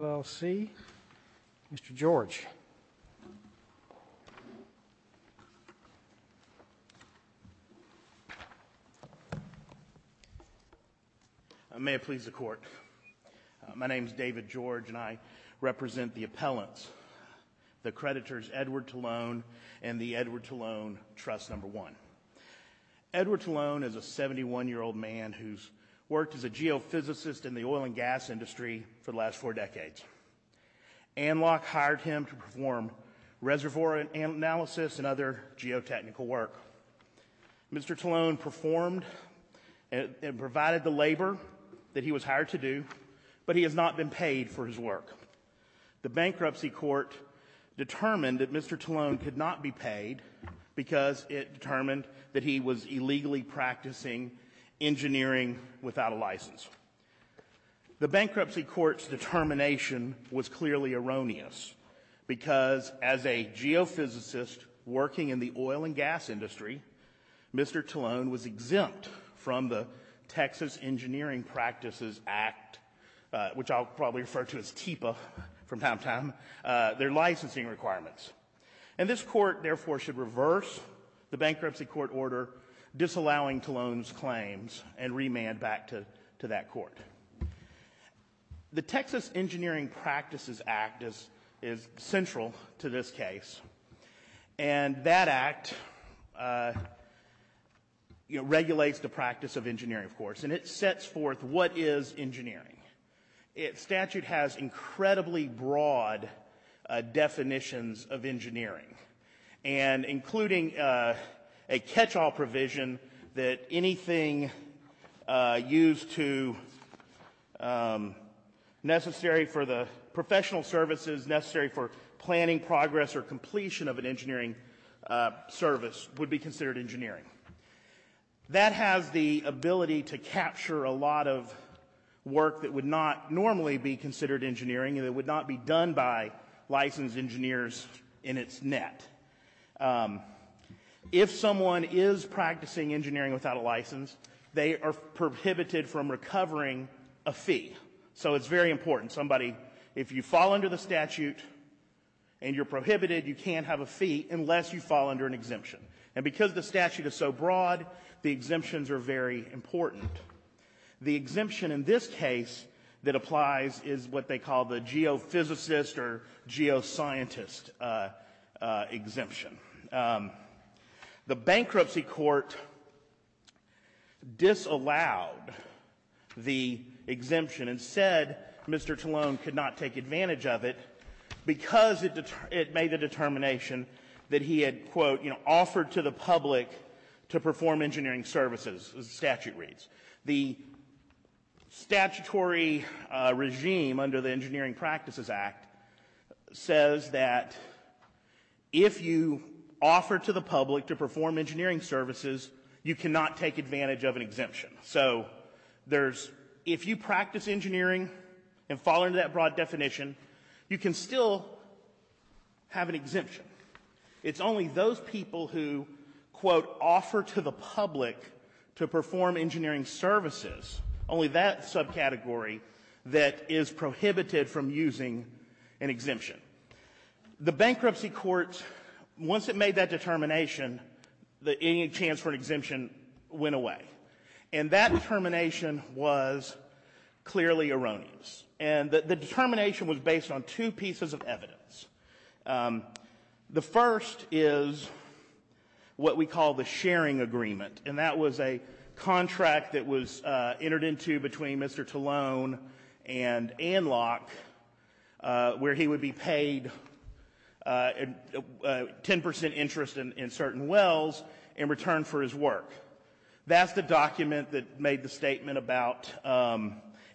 Mr. George. May it please the Court. My name is David George and I represent the appellants, the creditors Edward Talone and the Edward Talone Trust No. 1. Edward Talone is a 71-year-old man who has worked as a geophysicist in the oil and gas industry for the last four decades. Anloc hired him to perform reservoir analysis and other geotechnical work. Mr. Talone performed and provided the labor that he was hired to do, but he has not been paid for his work. The bankruptcy court determined that Mr. Talone could not be paid because it determined that he was illegally practicing engineering without a license. The bankruptcy court's determination was clearly erroneous because as a geophysicist working in the oil and gas industry, Mr. Talone was exempt from the Texas Engineering Practices Act, which I'll probably refer to as TIPA from time to time, their licensing requirements. And this court, therefore, should reverse the bankruptcy court order disallowing Talone's in that court. The Texas Engineering Practices Act is central to this case, and that act regulates the practice of engineering, of course, and it sets forth what is engineering. Statute has incredibly broad definitions of engineering, and including a catch-all provision that anything used to, necessary for the professional services, necessary for planning progress or completion of an engineering service would be considered engineering. That has the ability to capture a lot of work that would not normally be considered engineering and that would not be done by licensed engineers in its net. If someone is practicing engineering without a license, they are prohibited from recovering a fee. So it's very important. Somebody, if you fall under the statute and you're prohibited, you can't have a fee unless you fall under an exemption. And because the statute is so broad, the exemptions are very important. The exemption in this case that applies is what they call the geophysicist or geoscientist exemption. The bankruptcy court disallowed the exemption and said Mr. Talone could not take advantage of it because it made the determination that he had, quote, you know, offered to the public to perform engineering services, as the statute reads. The statutory regime under the Engineering Practices Act says that if you offer to the public to perform engineering services, you cannot take advantage of an exemption. So there's, if you practice engineering and fall under that broad definition, you can still have an exemption. It's only those people who, quote, offer to the public to perform engineering services, only that subcategory, that is prohibited from using an exemption. The bankruptcy court, once it made that determination, any chance for an exemption went away. And that determination was clearly erroneous. And the determination was based on two pieces of evidence. The first is what we call the sharing agreement. And that was a contract that was entered into between Mr. Talone and Anlock, where he would be paid 10% interest in certain wells in return for his work. That's the document that made the statement about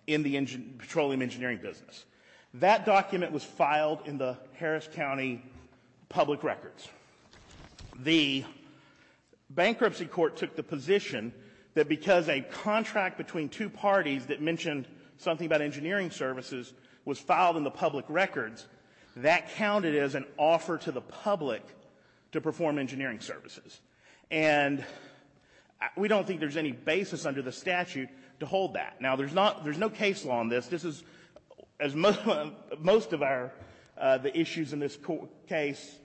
in the petroleum engineering business. That document was filed in the Harris County public records. The bankruptcy court took the position that because a contract between two parties that mentioned something about engineering services was filed in the public records, that counted as an offer to the public to perform engineering services. And we don't think there's any basis under the statute to hold that. Now, there's no case law on this. This is, as most of the issues in this case,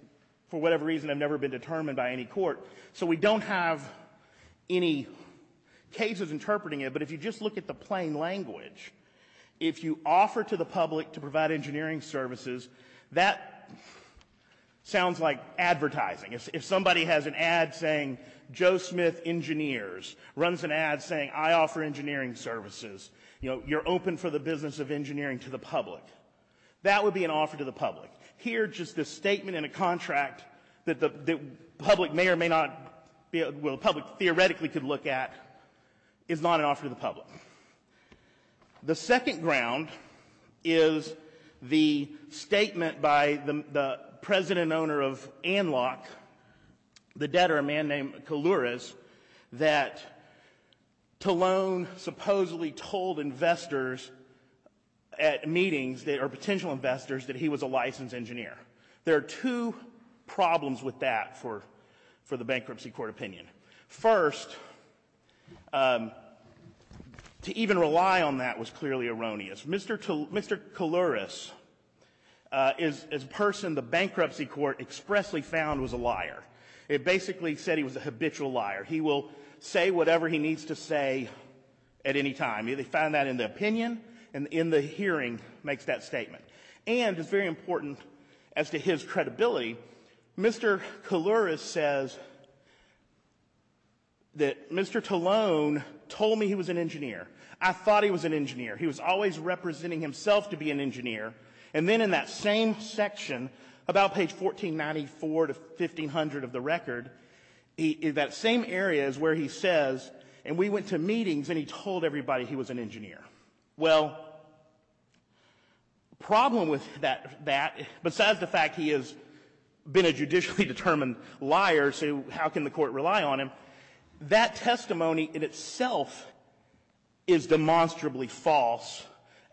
for whatever reason, have never been determined by any court. So we don't have any cases interpreting it. But if you just look at the plain language, if you offer to the public to provide engineering services, that sounds like advertising. If somebody has an ad saying Joe Smith engineers, runs an ad saying I offer engineering services, you know, you're open for the business of engineering to the public. That would be an offer to the public. Here, just the statement in a contract that the public may or may not be, well, the public theoretically could look at, is not an offer to the public. The second ground is the statement by the president and owner of Anlock, the debtor, a man named Kalouris, that Talone supposedly told investors at meetings, or potential investors, that he was a licensed engineer. There are two problems with that for the bankruptcy court opinion. First, to even rely on that was clearly erroneous. Mr. Kalouris is a person the bankruptcy court expressly found was a liar. It basically said he was a habitual liar. He will say whatever he needs to say at any time. They found that in the opinion and in the hearing makes that statement. And it's very important as to his credibility, Mr. Kalouris says that Mr. Talone told me he was an engineer. I thought he was an engineer. He was always representing himself to be an engineer. And then in that same section, about page 1494 to 1500 of the record, that same area is where he says, and we went to meetings and he told everybody he was an engineer. Well, the problem with that, besides the fact he has been a judicially determined liar, so how can the court rely on him? That testimony in itself is demonstrably false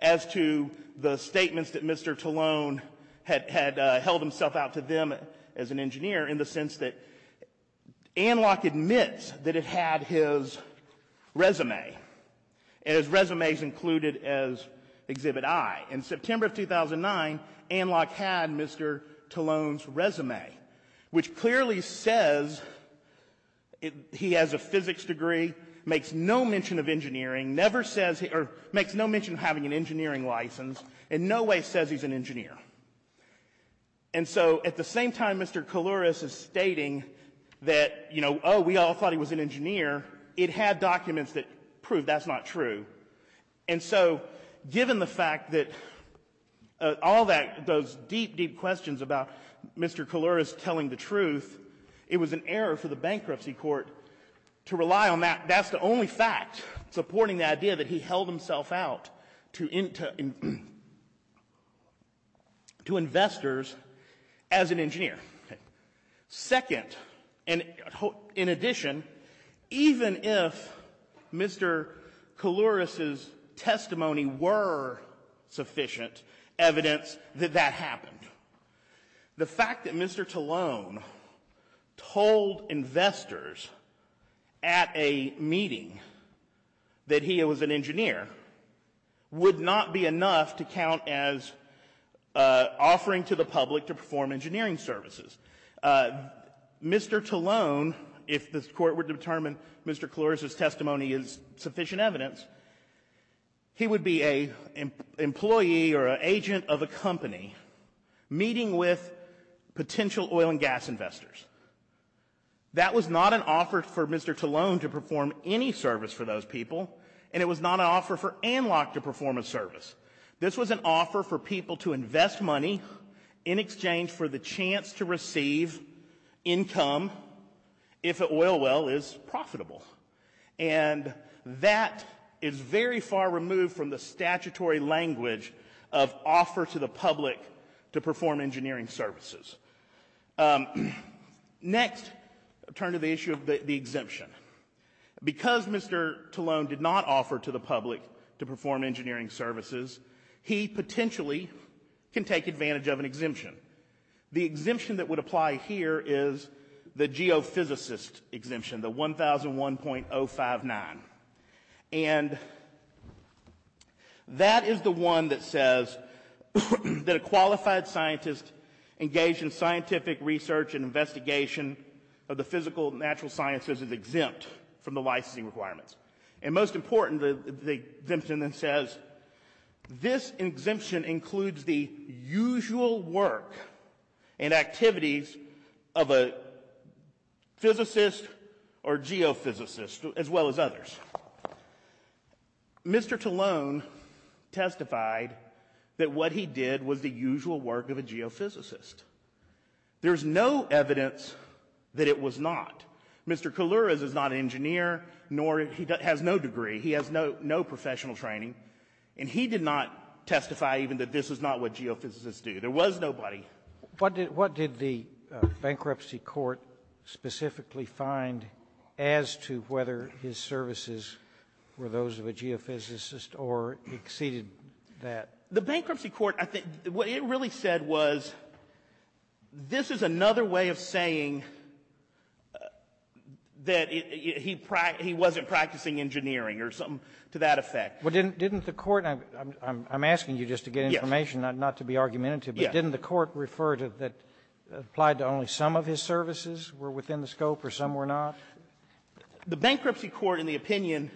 as to the statements that Mr. Talone had held himself out to them as an engineer in the sense that Anlock admits that it had his resume. And his resume is included as Exhibit I. In September of 2009, Anlock had Mr. Talone's resume, which clearly says he has a physics degree, makes no mention of engineering, never says or makes no mention of having an engineering license, in no way says he's an engineer. And so at the same time, Mr. Kalouris is stating that, you know, oh, we all thought he was an engineer. It had documents that proved that's not true. And so given the fact that all that, those deep, deep questions about Mr. Kalouris telling the truth, it was an error for the bankruptcy court to rely on that. That's the only fact supporting the idea that he held himself out to investors as an engineer. Second, and in addition, even if Mr. Kalouris' testimony were sufficient evidence that that happened, the fact that Mr. Talone told investors at a meeting that he was an engineer would not be enough to count as offering to the public to perform engineering services. Mr. Talone, if this court were to determine Mr. Kalouris' testimony is sufficient evidence, he would be an employee or an agent of a company meeting with potential oil and gas investors. That was not an offer for Mr. Talone to perform any service for those people, and it was not an offer for Anlock to perform a service. This was an offer for people to invest money in exchange for the chance to receive income if oil well is profitable. And that is very far removed from the statutory language of offer to the public to perform engineering services. Next, I'll turn to the issue of the exemption. Because Mr. Talone did not offer to the public to perform engineering services, he potentially can take advantage of an exemption. The exemption that would apply here is the geophysicist exemption, the 1001.059. And that is the one that says that a qualified scientist engaged in scientific research and investigation of the physical and natural sciences is exempt from the licensing requirements. And most important, the exemption then says this exemption includes the usual work and activities of a physicist or geophysicist, as well as others. Mr. Talone testified that what he did was the usual work of a geophysicist. There's no evidence that it was not. Mr. Koulouris is not an engineer, nor he has no degree. He has no professional training. And he did not testify even that this is not what geophysicists do. There was nobody. What did the bankruptcy court specifically find as to whether his services were those of a geophysicist or exceeded that? The bankruptcy court, I think, what it really said was, this is another way of saying that he wasn't practicing engineering or something to that effect. Well, didn't the court — I'm asking you just to get information, not to be argumentative. Yes. But didn't the court refer to that it applied to only some of his services were within the scope or some were not? The bankruptcy court, in the opinion,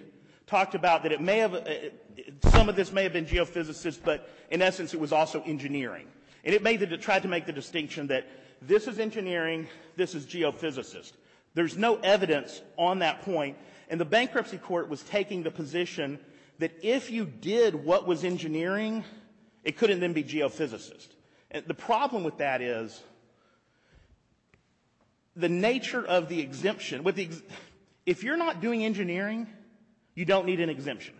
talked about that it may have — some of this may have been geophysicist, but in essence, it was also engineering. And it made the — tried to make the distinction that this is engineering, this is geophysicist. There's no evidence on that point. And the bankruptcy court was taking the position that if you did what was engineering, it couldn't then be geophysicist. And the problem with that is the nature of the exemption — if you're not doing engineering, you don't need an exemption.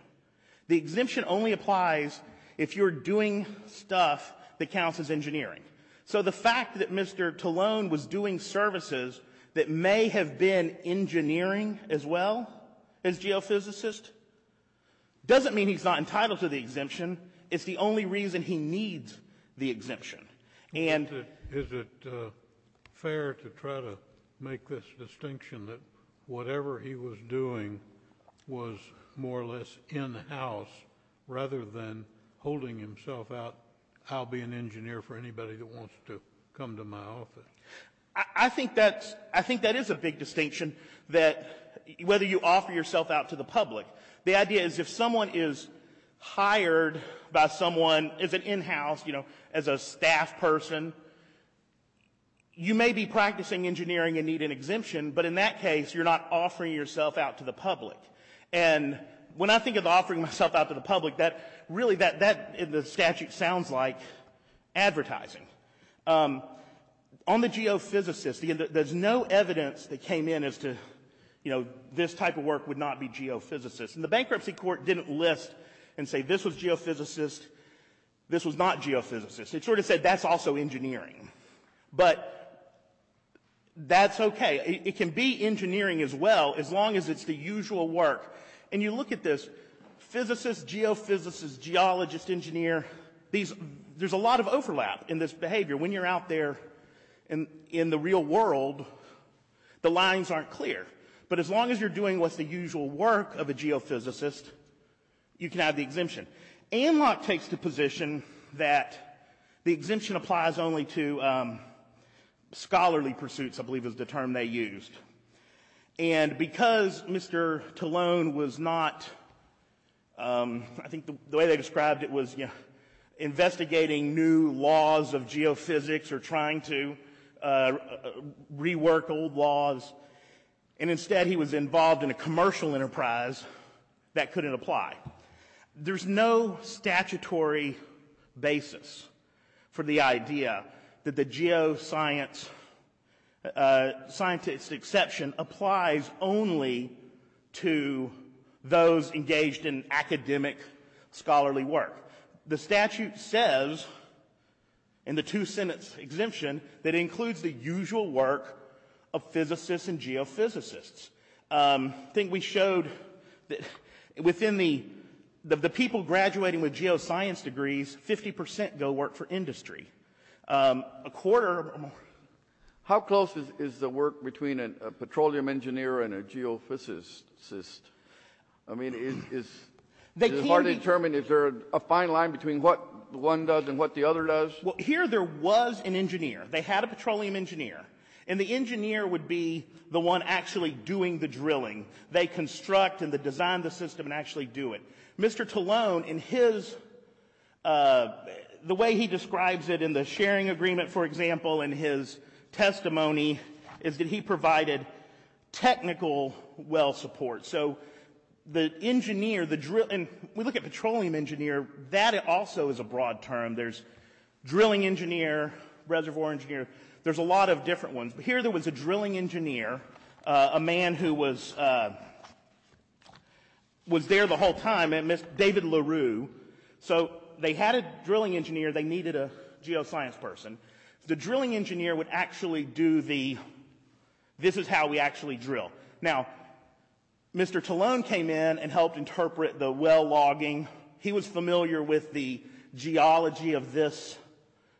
The exemption only applies if you're doing stuff that counts as engineering. So the fact that Mr. Talone was doing services that may have been engineering as well as geophysicist doesn't mean he's not entitled to the exemption. It's the only reason he needs the exemption. And — Is it fair to try to make this distinction that whatever he was doing was more or less in-house rather than holding himself out, I'll be an engineer for anybody that wants to come to my office? I think that's — I think that is a big distinction that — whether you offer yourself out to the public. The idea is if someone is hired by someone as an in-house, you know, as a staff person, you may be practicing engineering and need an exemption. But in that case, you're not offering yourself out to the public. And when I think of offering myself out to the public, that — really, that — the statute sounds like advertising. On the geophysicist, there's no evidence that came in as to, you know, this type of work would not be geophysicist. And the bankruptcy court didn't list and say this was geophysicist, this was not geophysicist. It sort of said that's also engineering. But that's okay. It can be engineering as well, as long as it's the usual work. And you look at this. Physicist, geophysicist, geologist, engineer. These — there's a lot of overlap in this behavior. When you're out there in the real world, the lines aren't clear. But as long as you're doing what's the usual work of a geophysicist, you can have the exemption. Anlock takes the position that the exemption applies only to scholarly pursuits, I believe is the term they used. And because Mr. Talone was not — I think the way they described it was, you know, investigating new laws of geophysics or trying to rework old laws. And instead, he was involved in a commercial enterprise that couldn't apply. There's no statutory basis for the idea that the geoscientist exception applies only to those engaged in academic scholarly work. The statute says in the two-sentence exemption that includes the usual work of physicists and geophysicists. I think we showed that within the — the people graduating with geoscience degrees, 50 percent go work for industry. A quarter — How close is the work between a petroleum engineer and a geophysicist? I mean, is it hard to determine? Is there a fine line between what one does and what the other does? Well, here there was an engineer. They had a petroleum engineer. And the engineer would be the one actually doing the drilling. They construct and design the system and actually do it. Mr. Talone, in his — the way he describes it in the sharing agreement, for example, in his testimony is that he provided technical well support. So the engineer, the — and we look at petroleum engineer, that also is a broad term. There's drilling engineer, reservoir engineer. There's a lot of different ones. But here there was a drilling engineer, a man who was there the whole time, David LaRue. So they had a drilling engineer. They needed a geoscience person. The drilling engineer would actually do the — this is how we actually drill. Now, Mr. Talone came in and helped interpret the well logging. He was familiar with the geology of this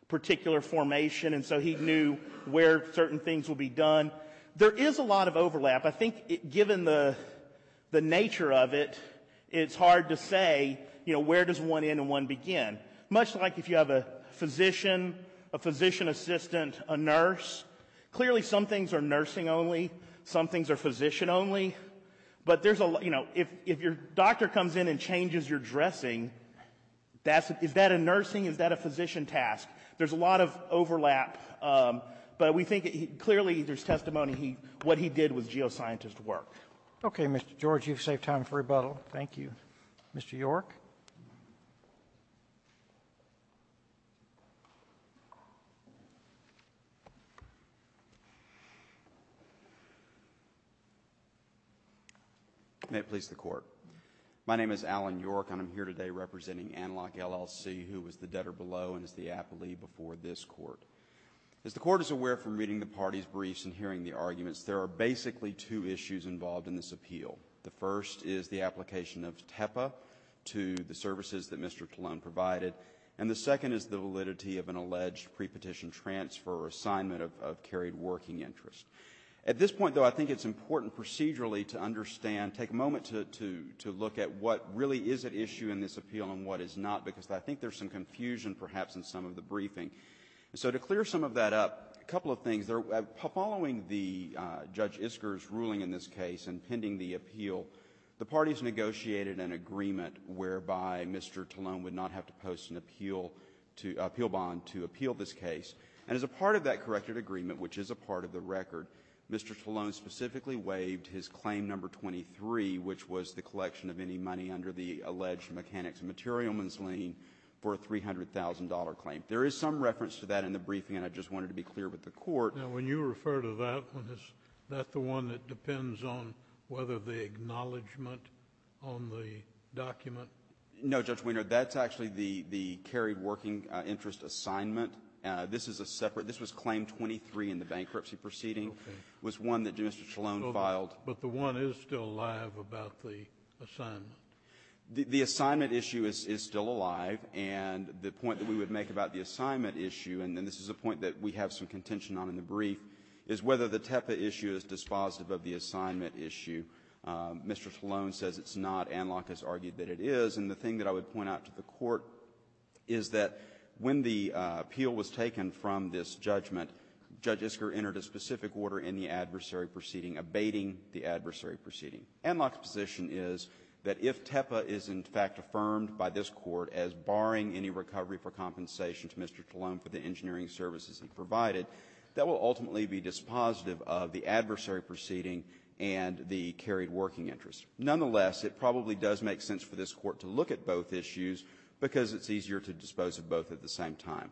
particular formation. And so he knew where certain things will be done. There is a lot of overlap. I think given the nature of it, it's hard to say, you know, where does one end and one begin? Much like if you have a physician, a physician assistant, a nurse. Clearly some things are nursing only. Some things are physician only. But there's a — you know, if your doctor comes in and changes your dressing, that's — is that a nursing, is that a physician task? There's a lot of overlap. But we think — clearly there's testimony what he did with geoscientist work. Roberts. Okay, Mr. George. You've saved time for rebuttal. Thank you. Mr. Yorke. Yorke. May it please the Court. My name is Alan Yorke, and I'm here today representing Analog LLC, who was the debtor below and is the appellee before this Court. As the Court is aware from reading the party's briefs and hearing the arguments, there are basically two issues involved in this appeal. The first is the application of TEPA to the services that Mr. Colon provided. And the second is the validity of an alleged pre-petition transfer or assignment of carried working interest. At this point, though, I think it's important procedurally to understand — take a moment to look at what really is at issue in this appeal and what is not, because I think there's some confusion perhaps in some of the briefing. So to clear some of that up, a couple of things. Following the Judge Isker's ruling in this case and pending the appeal, the parties negotiated an agreement whereby Mr. Colon would not have to post an appeal bond to appeal this case. And as a part of that corrected agreement, which is a part of the record, Mr. Colon specifically waived his claim number 23, which was the collection of any money under the $300,000 claim. There is some reference to that in the briefing, and I just wanted to be clear with the Court. Now, when you refer to that one, is that the one that depends on whether the acknowledgment on the document? No, Judge Weiner. That's actually the carried working interest assignment. This is a separate — this was claim 23 in the bankruptcy proceeding. Okay. It was one that Mr. Colon filed. But the one is still alive about the assignment. The assignment issue is still alive. And the point that we would make about the assignment issue, and then this is a point that we have some contention on in the brief, is whether the TEPA issue is dispositive of the assignment issue. Mr. Colon says it's not. Anlock has argued that it is. And the thing that I would point out to the Court is that when the appeal was taken from this judgment, Judge Isker entered a specific order in the adversary proceeding abating the adversary proceeding. Anlock's position is that if TEPA is, in fact, affirmed by this Court as barring any recovery for compensation to Mr. Colon for the engineering services he provided, that will ultimately be dispositive of the adversary proceeding and the carried working interest. Nonetheless, it probably does make sense for this Court to look at both issues because it's easier to dispose of both at the same time.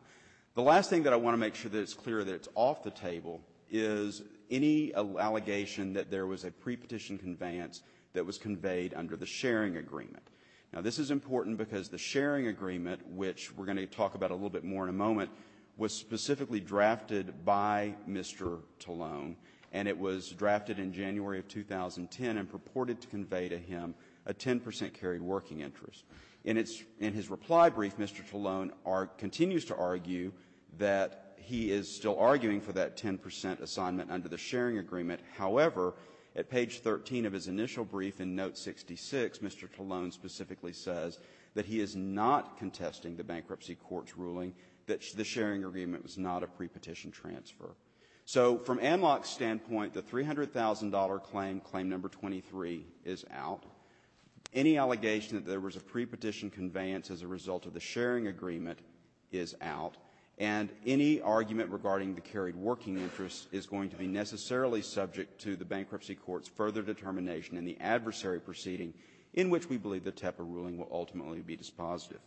The last thing that I want to make sure that it's clear that it's off the table is any allegation that there was a prepetition conveyance that was conveyed under the sharing agreement. Now, this is important because the sharing agreement, which we're going to talk about a little bit more in a moment, was specifically drafted by Mr. Colon, and it was drafted in January of 2010 and purported to convey to him a 10 percent carried working interest. In his reply brief, Mr. Colon continues to argue that he is still arguing for that 10 percent assignment under the sharing agreement. However, at page 13 of his initial brief in note 66, Mr. Colon specifically says that he is not contesting the bankruptcy court's ruling that the sharing agreement was not a prepetition transfer. So from AMLOC's standpoint, the $300,000 claim, claim number 23, is out. Any allegation that there was a prepetition conveyance as a result of the sharing agreement is out, and any argument regarding the carried working interest is going to be necessarily subject to the bankruptcy court's further determination in the adversary proceeding in which we believe the TEPA ruling will ultimately be dispositive.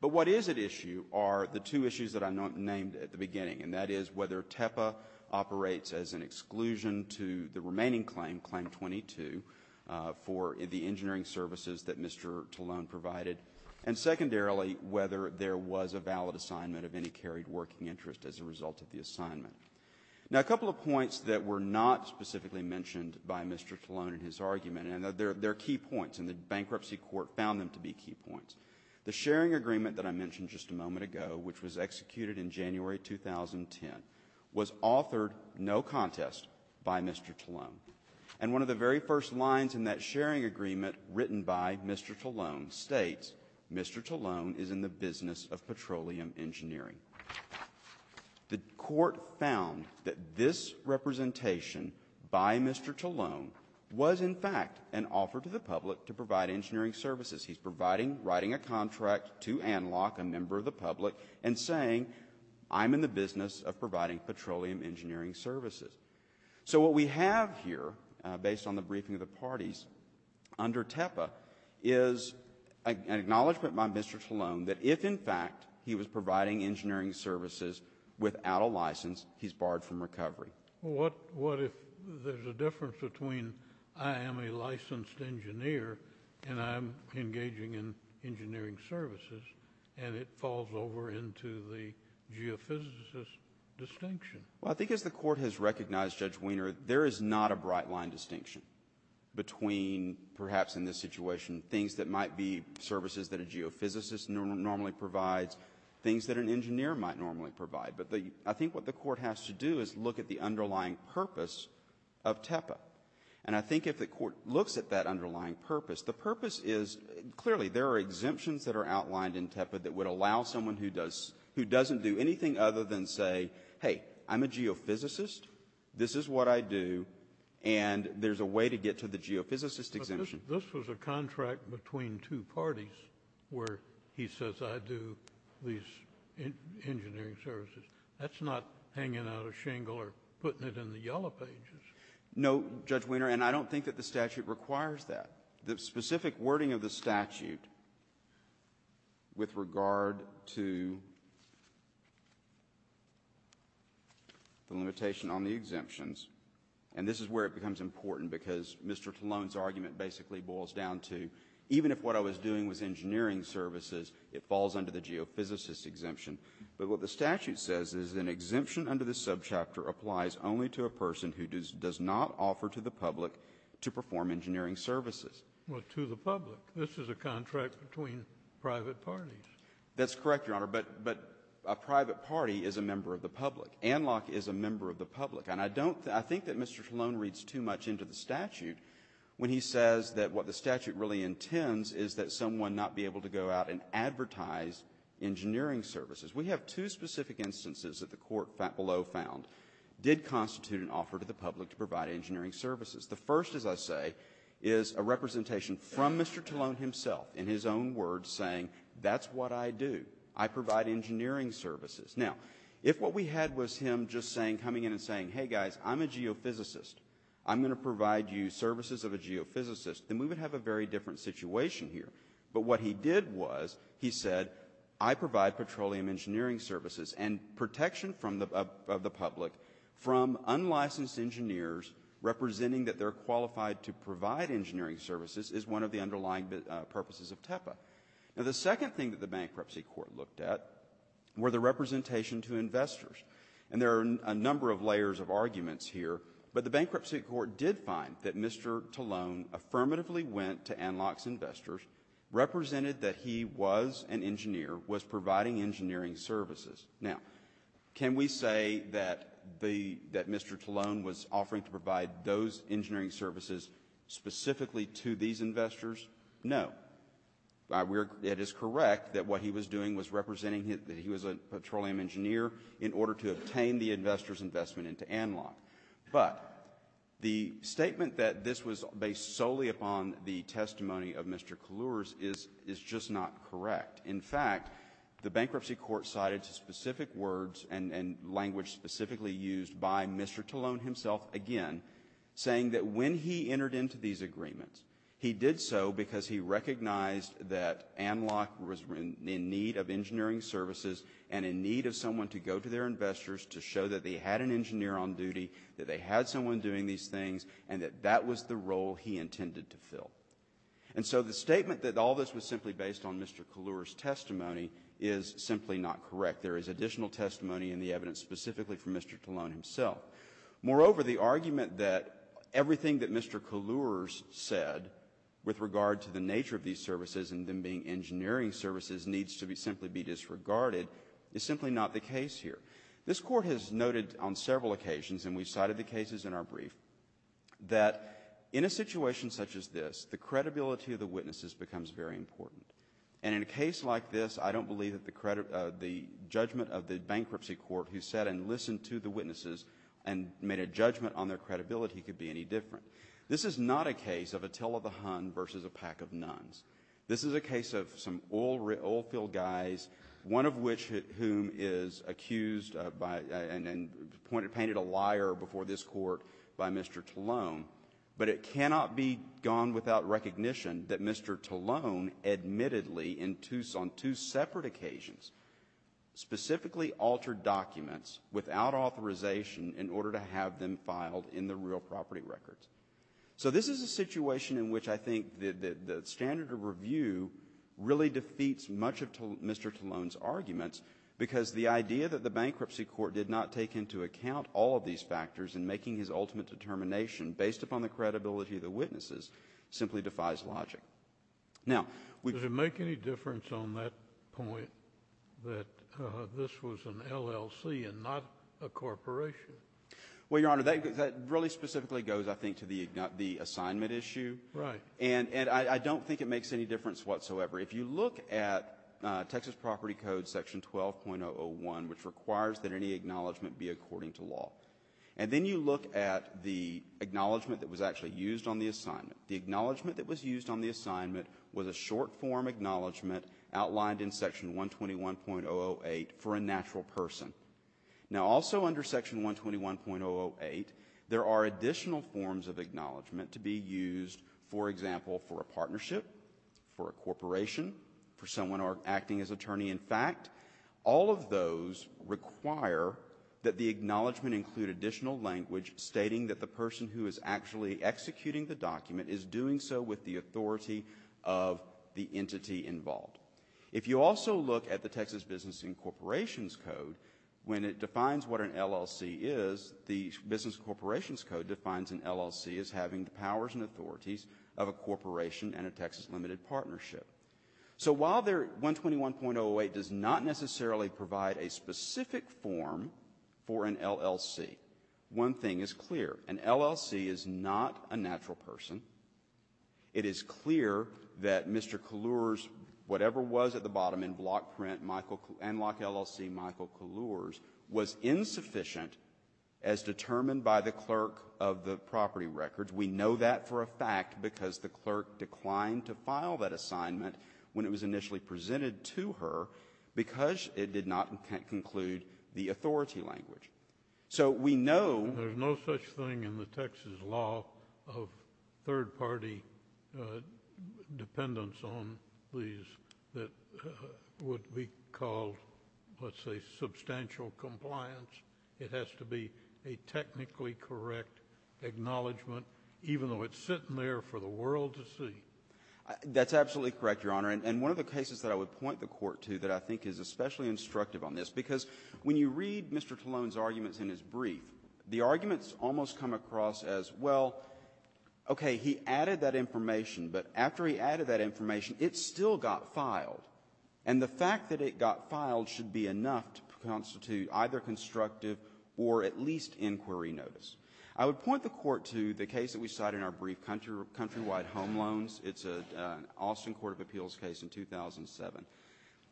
But what is at issue are the two issues that I named at the beginning, and that is whether TEPA operates as an exclusion to the remaining claim, claim 22, for the engineering services that Mr. Colon provided. And secondarily, whether there was a valid assignment of any carried working interest as a result of the assignment. Now, a couple of points that were not specifically mentioned by Mr. Colon in his argument, and they're key points, and the bankruptcy court found them to be key points. The sharing agreement that I mentioned just a moment ago, which was executed in January 2010, was authored, no contest, by Mr. Colon. And one of the very first lines in that sharing agreement written by Mr. Colon states, Mr. Colon is in the business of petroleum engineering. The court found that this representation by Mr. Colon was, in fact, an offer to the public to provide engineering services. He's providing, writing a contract to ANLOC, a member of the public, and saying, I'm in the business of providing petroleum engineering services. So what we have here, based on the briefing of the parties, under TEPA, is an acknowledgement by Mr. Colon that if, in fact, he was providing engineering services without a license, he's barred from recovery. Well, what if there's a difference between I am a licensed engineer and I'm engaging in engineering services, and it falls over into the geophysicist distinction? Well, I think as the court has recognized, Judge Wiener, there is not a bright line distinction between, perhaps in this situation, things that might be services that a geophysicist normally provides, things that an engineer might normally provide. But I think what the court has to do is look at the underlying purpose of TEPA. And I think if the court looks at that underlying purpose, the purpose is, clearly, there are exemptions that are outlined in TEPA that would allow someone who doesn't do anything other than say, hey, I'm a geophysicist, this is what I do, and there's a way to get to the geophysicist exemption. But this was a contract between two parties where he says I do these engineering services. That's not hanging out a shingle or putting it in the yellow pages. No, Judge Wiener, and I don't think that the statute requires that. The specific wording of the statute with regard to the limitation on the exemptions, and this is where it becomes important because Mr. Talone's argument basically boils down to, even if what I was doing was engineering services, it falls under the geophysicist exemption. But what the statute says is an exemption under the subchapter applies only to a public. This is a contract between private parties. That's correct, Your Honor, but a private party is a member of the public. ANLOC is a member of the public, and I think that Mr. Talone reads too much into the statute when he says that what the statute really intends is that someone not be able to go out and advertise engineering services. We have two specific instances that the court below found did constitute an offer to the public to provide engineering services. The first, as I say, is a representation from Mr. Talone himself in his own words saying, that's what I do. I provide engineering services. Now, if what we had was him just coming in and saying, hey, guys, I'm a geophysicist. I'm going to provide you services of a geophysicist, then we would have a very different situation here. But what he did was he said, I provide petroleum engineering services and protection of the public from unlicensed engineers representing that they're qualified to provide engineering services is one of the underlying purposes of TEPA. Now, the second thing that the bankruptcy court looked at were the representation to investors, and there are a number of layers of arguments here, but the bankruptcy court did find that Mr. Talone affirmatively went to ANLOC's investors, represented that he was an engineer, was providing engineering services. Now, can we say that Mr. Talone was offering to provide those engineering services specifically to these investors? No. It is correct that what he was doing was representing that he was a petroleum engineer in order to obtain the investors' investment into ANLOC, but the statement that this was based solely upon the testimony of Mr. Kalluris is just not correct. In fact, the bankruptcy court cited specific words and language specifically used by Mr. Talone himself, again, saying that when he entered into these agreements, he did so because he recognized that ANLOC was in need of engineering services and in need of someone to go to their investors to show that they had an engineer on duty, that they had someone doing these things, and that that was the role he intended to fill. And so the statement that all this was simply based on Mr. Kalluris' testimony is simply not correct. There is additional testimony in the evidence specifically from Mr. Talone himself. Moreover, the argument that everything that Mr. Kalluris said with regard to the nature of these services and them being engineering services needs to simply be disregarded is simply not the case here. This Court has noted on several occasions, and we've cited the cases in our case, that the credibility of the witnesses becomes very important. And in a case like this, I don't believe that the judgment of the bankruptcy court who sat and listened to the witnesses and made a judgment on their credibility could be any different. This is not a case of a tale of the hun versus a pack of nuns. This is a case of some oil field guys, one of which whom is accused and painted a liar before this Court by Mr. Talone. But it cannot be gone without recognition that Mr. Talone admittedly, in two separate occasions, specifically altered documents without authorization in order to have them filed in the real property records. So this is a situation in which I think the standard of review really defeats much of Mr. Talone's arguments because the idea that the bankruptcy court did not take into account all of these factors in making his ultimate determination based upon the credibility of the witnesses simply defies logic. Now, we've… Does it make any difference on that point that this was an LLC and not a corporation? Well, Your Honor, that really specifically goes, I think, to the assignment issue. Right. And I don't think it makes any difference whatsoever. If you look at Texas Property Code Section 12.001, which requires that any acknowledgement be according to law. And then you look at the acknowledgement that was actually used on the assignment. The acknowledgement that was used on the assignment was a short-form acknowledgement outlined in Section 121.008 for a natural person. Now, also under Section 121.008, there are additional forms of acknowledgement to be used, for example, for a partnership, for a corporation, for someone acting as attorney. In fact, all of those require that the acknowledgement include additional language stating that the person who is actually executing the document is doing so with the authority of the entity involved. If you also look at the Texas Business and Corporations Code, when it defines what an LLC is, the Business and Corporations Code defines an LLC as having the powers and authorities of a corporation and a Texas limited partnership. So while their 121.008 does not necessarily provide a specific form for an LLC, one thing is clear. An LLC is not a natural person. It is clear that Mr. Kaluurs, whatever was at the bottom in block print, Enlock LLC Michael Kaluurs, was insufficient as determined by the clerk of the property records. We know that for a fact because the clerk declined to file that assignment when it was initially presented to her because it did not conclude the authority language. So we know— There's no such thing in the Texas law of third-party dependence on these that would be called, let's say, substantial compliance. It has to be a technically correct acknowledgement, even though it's sitting there for the world to see. That's absolutely correct, Your Honor. And one of the cases that I would point the Court to that I think is especially instructive on this, because when you read Mr. Talone's arguments in his brief, the arguments almost come across as, well, okay, he added that information, but after he added that information, it still got filed. And the fact that it got filed should be enough to constitute either constructive or at least inquiry notice. I would point the Court to the case that we cite in our brief, Countrywide Home Loans. It's an Austin Court of Appeals case in 2007.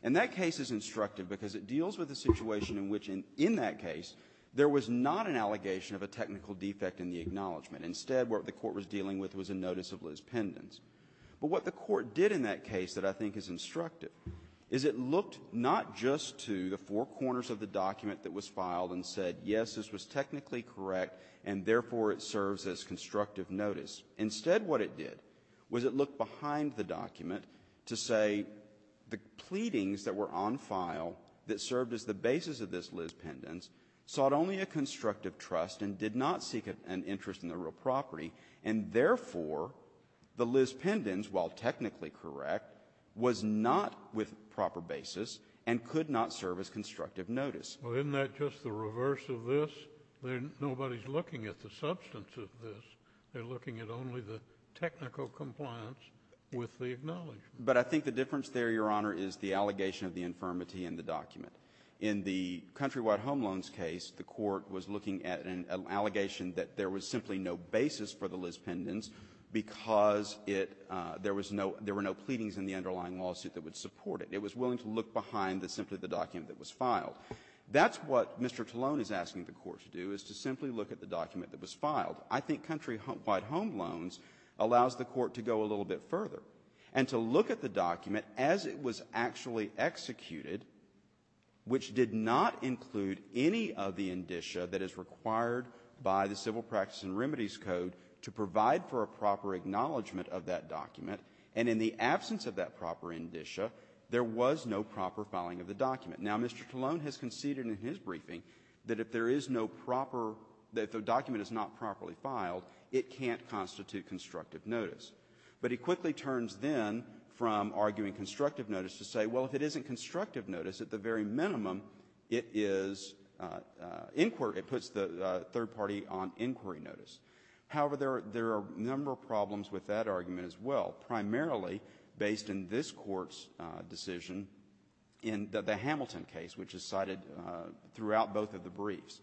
And that case is instructive because it deals with the situation in which, in that case, there was not an allegation of a technical defect in the acknowledgement. Instead, what the Court was dealing with was a notice of lispendence. But what the Court did in that case that I think is instructive is it looked not just to the four corners of the document that was filed and said, yes, this was technically correct, and therefore, it serves as constructive notice. Instead, what it did was it looked behind the document to say the pleadings that were on file that served as the basis of this lispendence sought only a constructive trust and did not seek an interest in the real property. And therefore, the lispendence, while technically correct, was not with proper basis and could not serve as constructive notice. Well, isn't that just the reverse of this? Nobody's looking at the substance of this. They're looking at only the technical compliance with the acknowledgement. But I think the difference there, Your Honor, is the allegation of the infirmity in the document. In the Countrywide Home Loans case, the Court was looking at an allegation that there was simply no basis for the lispendence because it – there was no – there were no pleadings in the underlying lawsuit that would support it. It was willing to look behind simply the document that was filed. That's what Mr. Tallone is asking the Court to do, is to simply look at the document that was filed. I think Countrywide Home Loans allows the Court to go a little bit further and to look at the document as it was actually executed, which did not include any of the indicia that is required by the Civil Practice and Remedies Code to provide for a proper acknowledgement of that document. And in the absence of that proper indicia, there was no proper filing of the document. Now, Mr. Tallone has conceded in his briefing that if there is no proper – that if the document is not properly filed, it can't constitute constructive notice. But he quickly turns then from arguing constructive notice to say, well, if it isn't – it puts the third party on inquiry notice. However, there are a number of problems with that argument as well, primarily based in this Court's decision in the Hamilton case, which is cited throughout both of the briefs.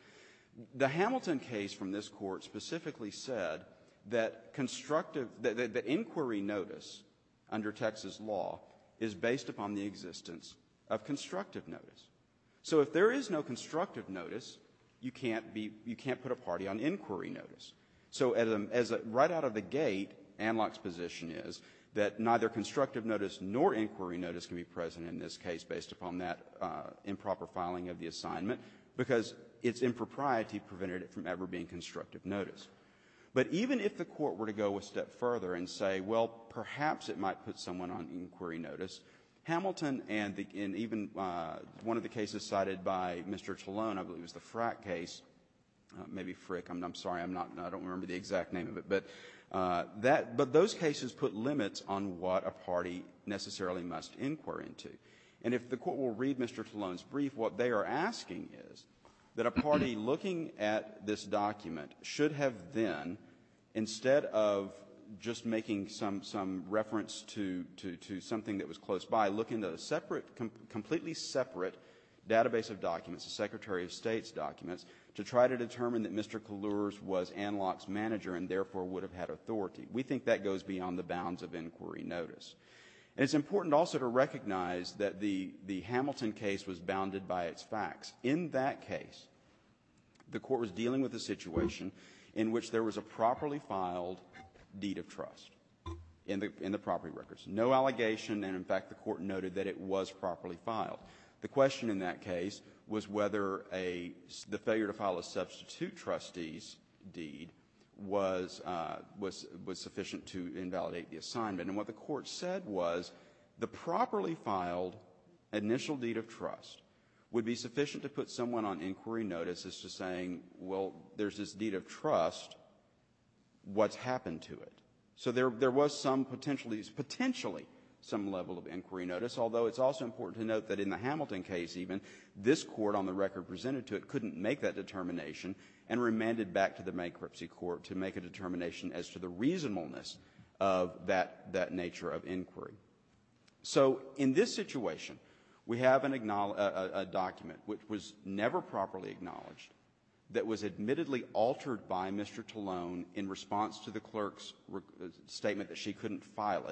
The Hamilton case from this Court specifically said that constructive – that the inquiry notice under Texas law is based upon the existence of constructive notice. So if there is no constructive notice, you can't be – you can't put a party on inquiry notice. So as a – right out of the gate, Anlock's position is that neither constructive notice nor inquiry notice can be present in this case based upon that improper filing of the assignment because its impropriety prevented it from ever being constructive notice. But even if the Court were to go a step further and say, well, perhaps it might put on inquiry notice, Hamilton and even one of the cases cited by Mr. Tallone, I believe it was the Frack case – maybe Frick, I'm sorry, I'm not – I don't remember the exact name of it. But that – but those cases put limits on what a party necessarily must inquire into. And if the Court will read Mr. Tallone's brief, what they are asking is that a party looking at this document should have then, instead of just making some – some reference to – to something that was close by, look into a separate – completely separate database of documents, the Secretary of State's documents, to try to determine that Mr. Kallurz was Anlock's manager and therefore would have had authority. We think that goes beyond the bounds of inquiry notice. And it's important also to recognize that the Hamilton case was bounded by its facts. In that case, the Court was dealing with a situation in which there was a properly filed deed of trust in the property records. No allegation, and in fact, the Court noted that it was properly filed. The question in that case was whether a – the failure to file a substitute trustee's deed was – was sufficient to invalidate the assignment. And what the Court said was the properly filed initial deed of trust would be sufficient to put someone on inquiry notice as to saying, well, there's this deed of trust, what's happened to it? So there – there was some potential – potentially some level of inquiry notice, although it's also important to note that in the Hamilton case even, this Court, on the record presented to it, couldn't make that determination and remanded back to the bankruptcy court to make a determination as to the reasonableness of that – that nature of inquiry. So in this situation, we have an – a document which was never properly acknowledged that was admittedly altered by Mr. Tallone in response to the clerk's statement that she couldn't file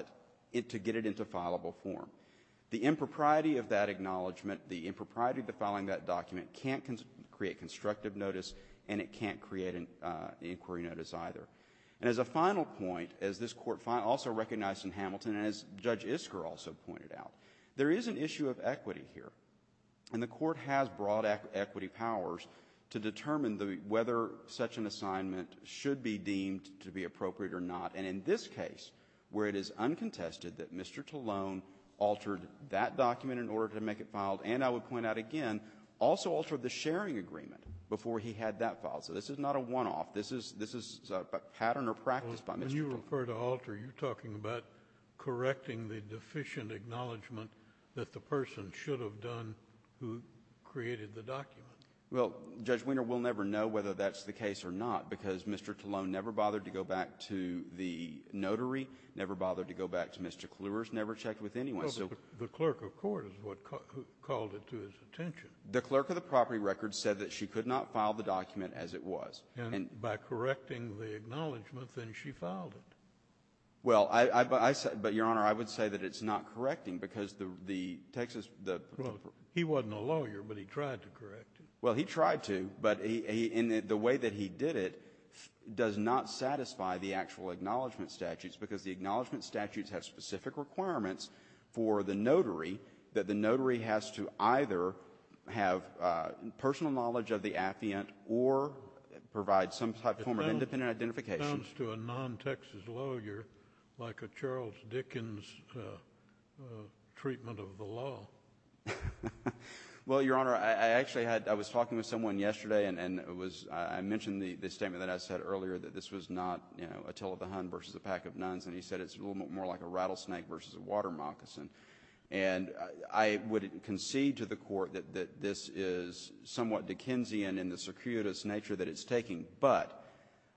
it to get it into fileable form. The impropriety of that acknowledgement, the impropriety of the filing of that document can't create constructive notice and it can't create an inquiry notice either. And as a final point, as this Court also recognized in Hamilton and as Judge Isker also pointed out, there is an issue of equity here. And the Court has broad equity powers to determine the – whether such an assignment should be deemed to be appropriate or not. And in this case, where it is uncontested that Mr. Tallone altered that document in order to make it filed, and I would point out again, also altered the sharing agreement before he had that filed. So this is not a one-off. This is – this is a pattern or practice by Mr. Tallone. When you refer to alter, you're talking about correcting the deficient acknowledgement that the person should have done who created the document. Well, Judge Wiener, we'll never know whether that's the case or not because Mr. Tallone never bothered to go back to the notary, never bothered to go back to Mr. Kluwers, never checked with anyone. Well, but the clerk of court is what called it to his attention. The clerk of the property record said that she could not file the document as it was. And by correcting the acknowledgement, then she filed it. Well, I said – but, Your Honor, I would say that it's not correcting because the Texas – the – Well, he wasn't a lawyer, but he tried to correct it. Well, he tried to, but he – and the way that he did it does not satisfy the actual acknowledgement statutes because the acknowledgement statutes have specific requirements for the notary that the notary has to either have personal knowledge of the affiant or provide some type form of independent identification. It sounds to a non-Texas lawyer like a Charles Dickens treatment of the law. Well, Your Honor, I actually had – I was talking with someone yesterday and it was – I mentioned the statement that I said earlier that this was not, you know, a till of the hun versus a pack of nuns, and he said it's a little bit more like a rattlesnake versus a water moccasin. And I would concede to the court that this is somewhat Dickensian in the circuitous nature that it's taking. But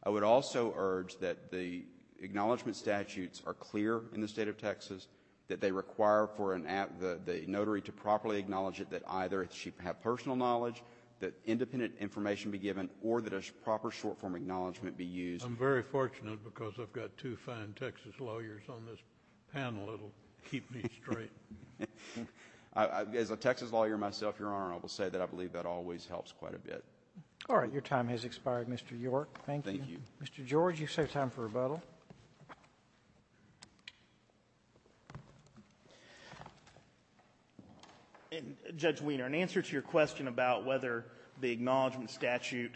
I would also urge that the acknowledgement statutes are clear in the state of Texas, that they require for an – the notary to properly acknowledge it that either she have personal knowledge, that independent information be given, or that a proper short-form acknowledgement be used. I'm very fortunate because I've got two fine Texas lawyers on this panel. It'll keep me straight. As a Texas lawyer myself, Your Honor, I will say that I believe that always helps quite a bit. All right. Your time has expired, Mr. York. Thank you. Mr. George, you have time for rebuttal. In – Judge Weiner, in answer to your question about whether the acknowledgement statute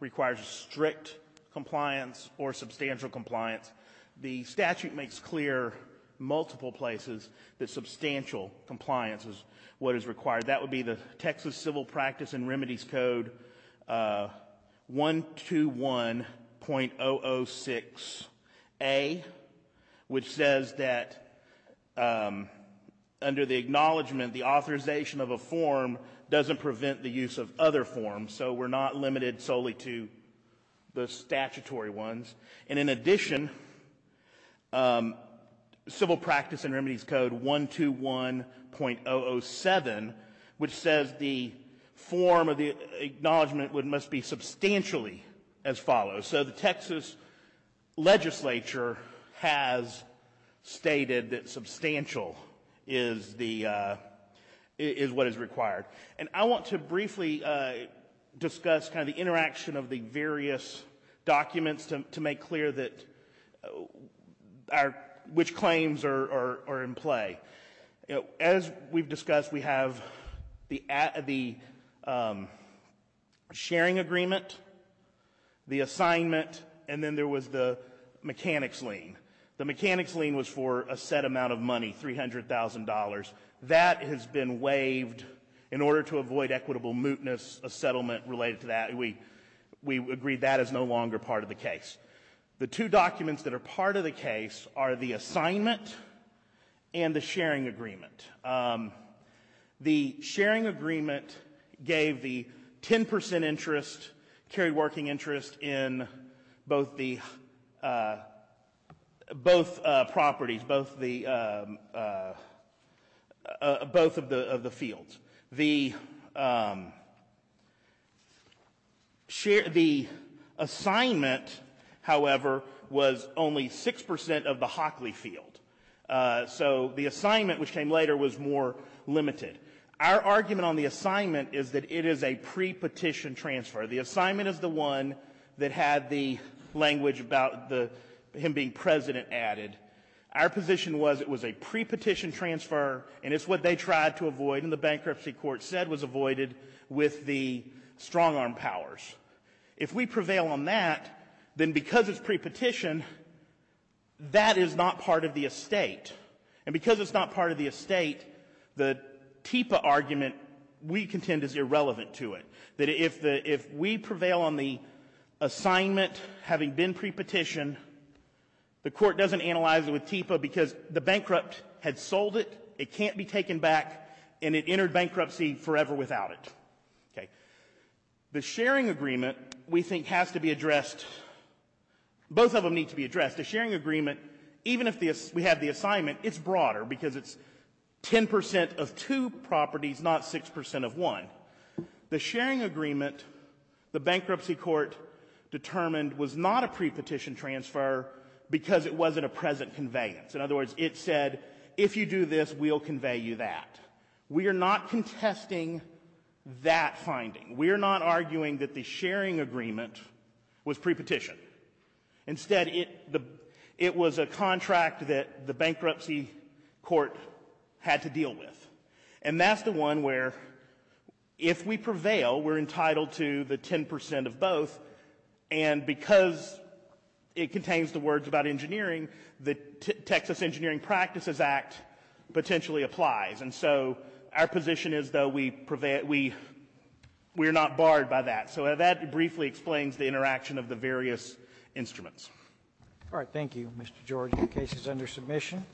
requires strict compliance or substantial compliance, the statute makes clear multiple places that substantial compliance is what is required. That would be the Texas Civil Practice and Remedies Code 121.006A, which says that under the acknowledgement, the authorization of a form doesn't prevent the use of other forms. So we're not limited solely to the statutory ones. And in addition, Civil Practice and Remedies Code 121.007, which says the form of the acknowledgement must be substantially as follows. So the Texas legislature has stated that substantial is the – is what is required. And I want to briefly discuss kind of the interaction of the various documents to make clear that our – which claims are in play. As we've discussed, we have the sharing agreement, the assignment, and then there was the mechanics lien. The mechanics lien was for a set amount of money, $300,000. That has been waived in order to avoid equitable mootness, a settlement related to that. We agree that is no longer part of the case. The two documents that are part of the case are the assignment and the sharing agreement. The sharing agreement gave the 10 percent interest, carried working interest, in both properties, both of the fields. The assignment, however, was only 6 percent of the Hockley field. So the assignment, which came later, was more limited. Our argument on the assignment is that it is a pre-petition transfer. The assignment is the one that had the language about the – him being president added. Our position was it was a pre-petition transfer and it's what they tried to avoid and the bankruptcy court said was avoided with the strong-arm powers. If we prevail on that, then because it's pre-petition, that is not part of the estate. And because it's not part of the estate, the TEPA argument, we contend, is irrelevant to it. That if we prevail on the assignment having been pre-petition, the court doesn't analyze it with TEPA because the bankrupt had sold it, it can't be taken back, and it entered bankruptcy forever without it. Okay. The sharing agreement, we think, has to be addressed – both of them need to be addressed. The sharing agreement, even if we have the assignment, it's broader because it's 10 percent of two properties, not 6 percent of one. The sharing agreement, the bankruptcy court determined, was not a pre-petition transfer because it wasn't a present conveyance. In other words, it said, if you do this, we'll convey you that. We are not contesting that finding. We are not arguing that the sharing agreement was pre-petition. Instead, it was a contract that the bankruptcy court had to deal with. And that's the one where, if we prevail, we're entitled to the 10 percent of both, and because it contains the words about engineering, the Texas Engineering Practices Act potentially applies. And so our position is, though, we are not barred by that. So that briefly explains the interaction of the various instruments. All right. Thank you, Mr. Jordan. The case is under submission.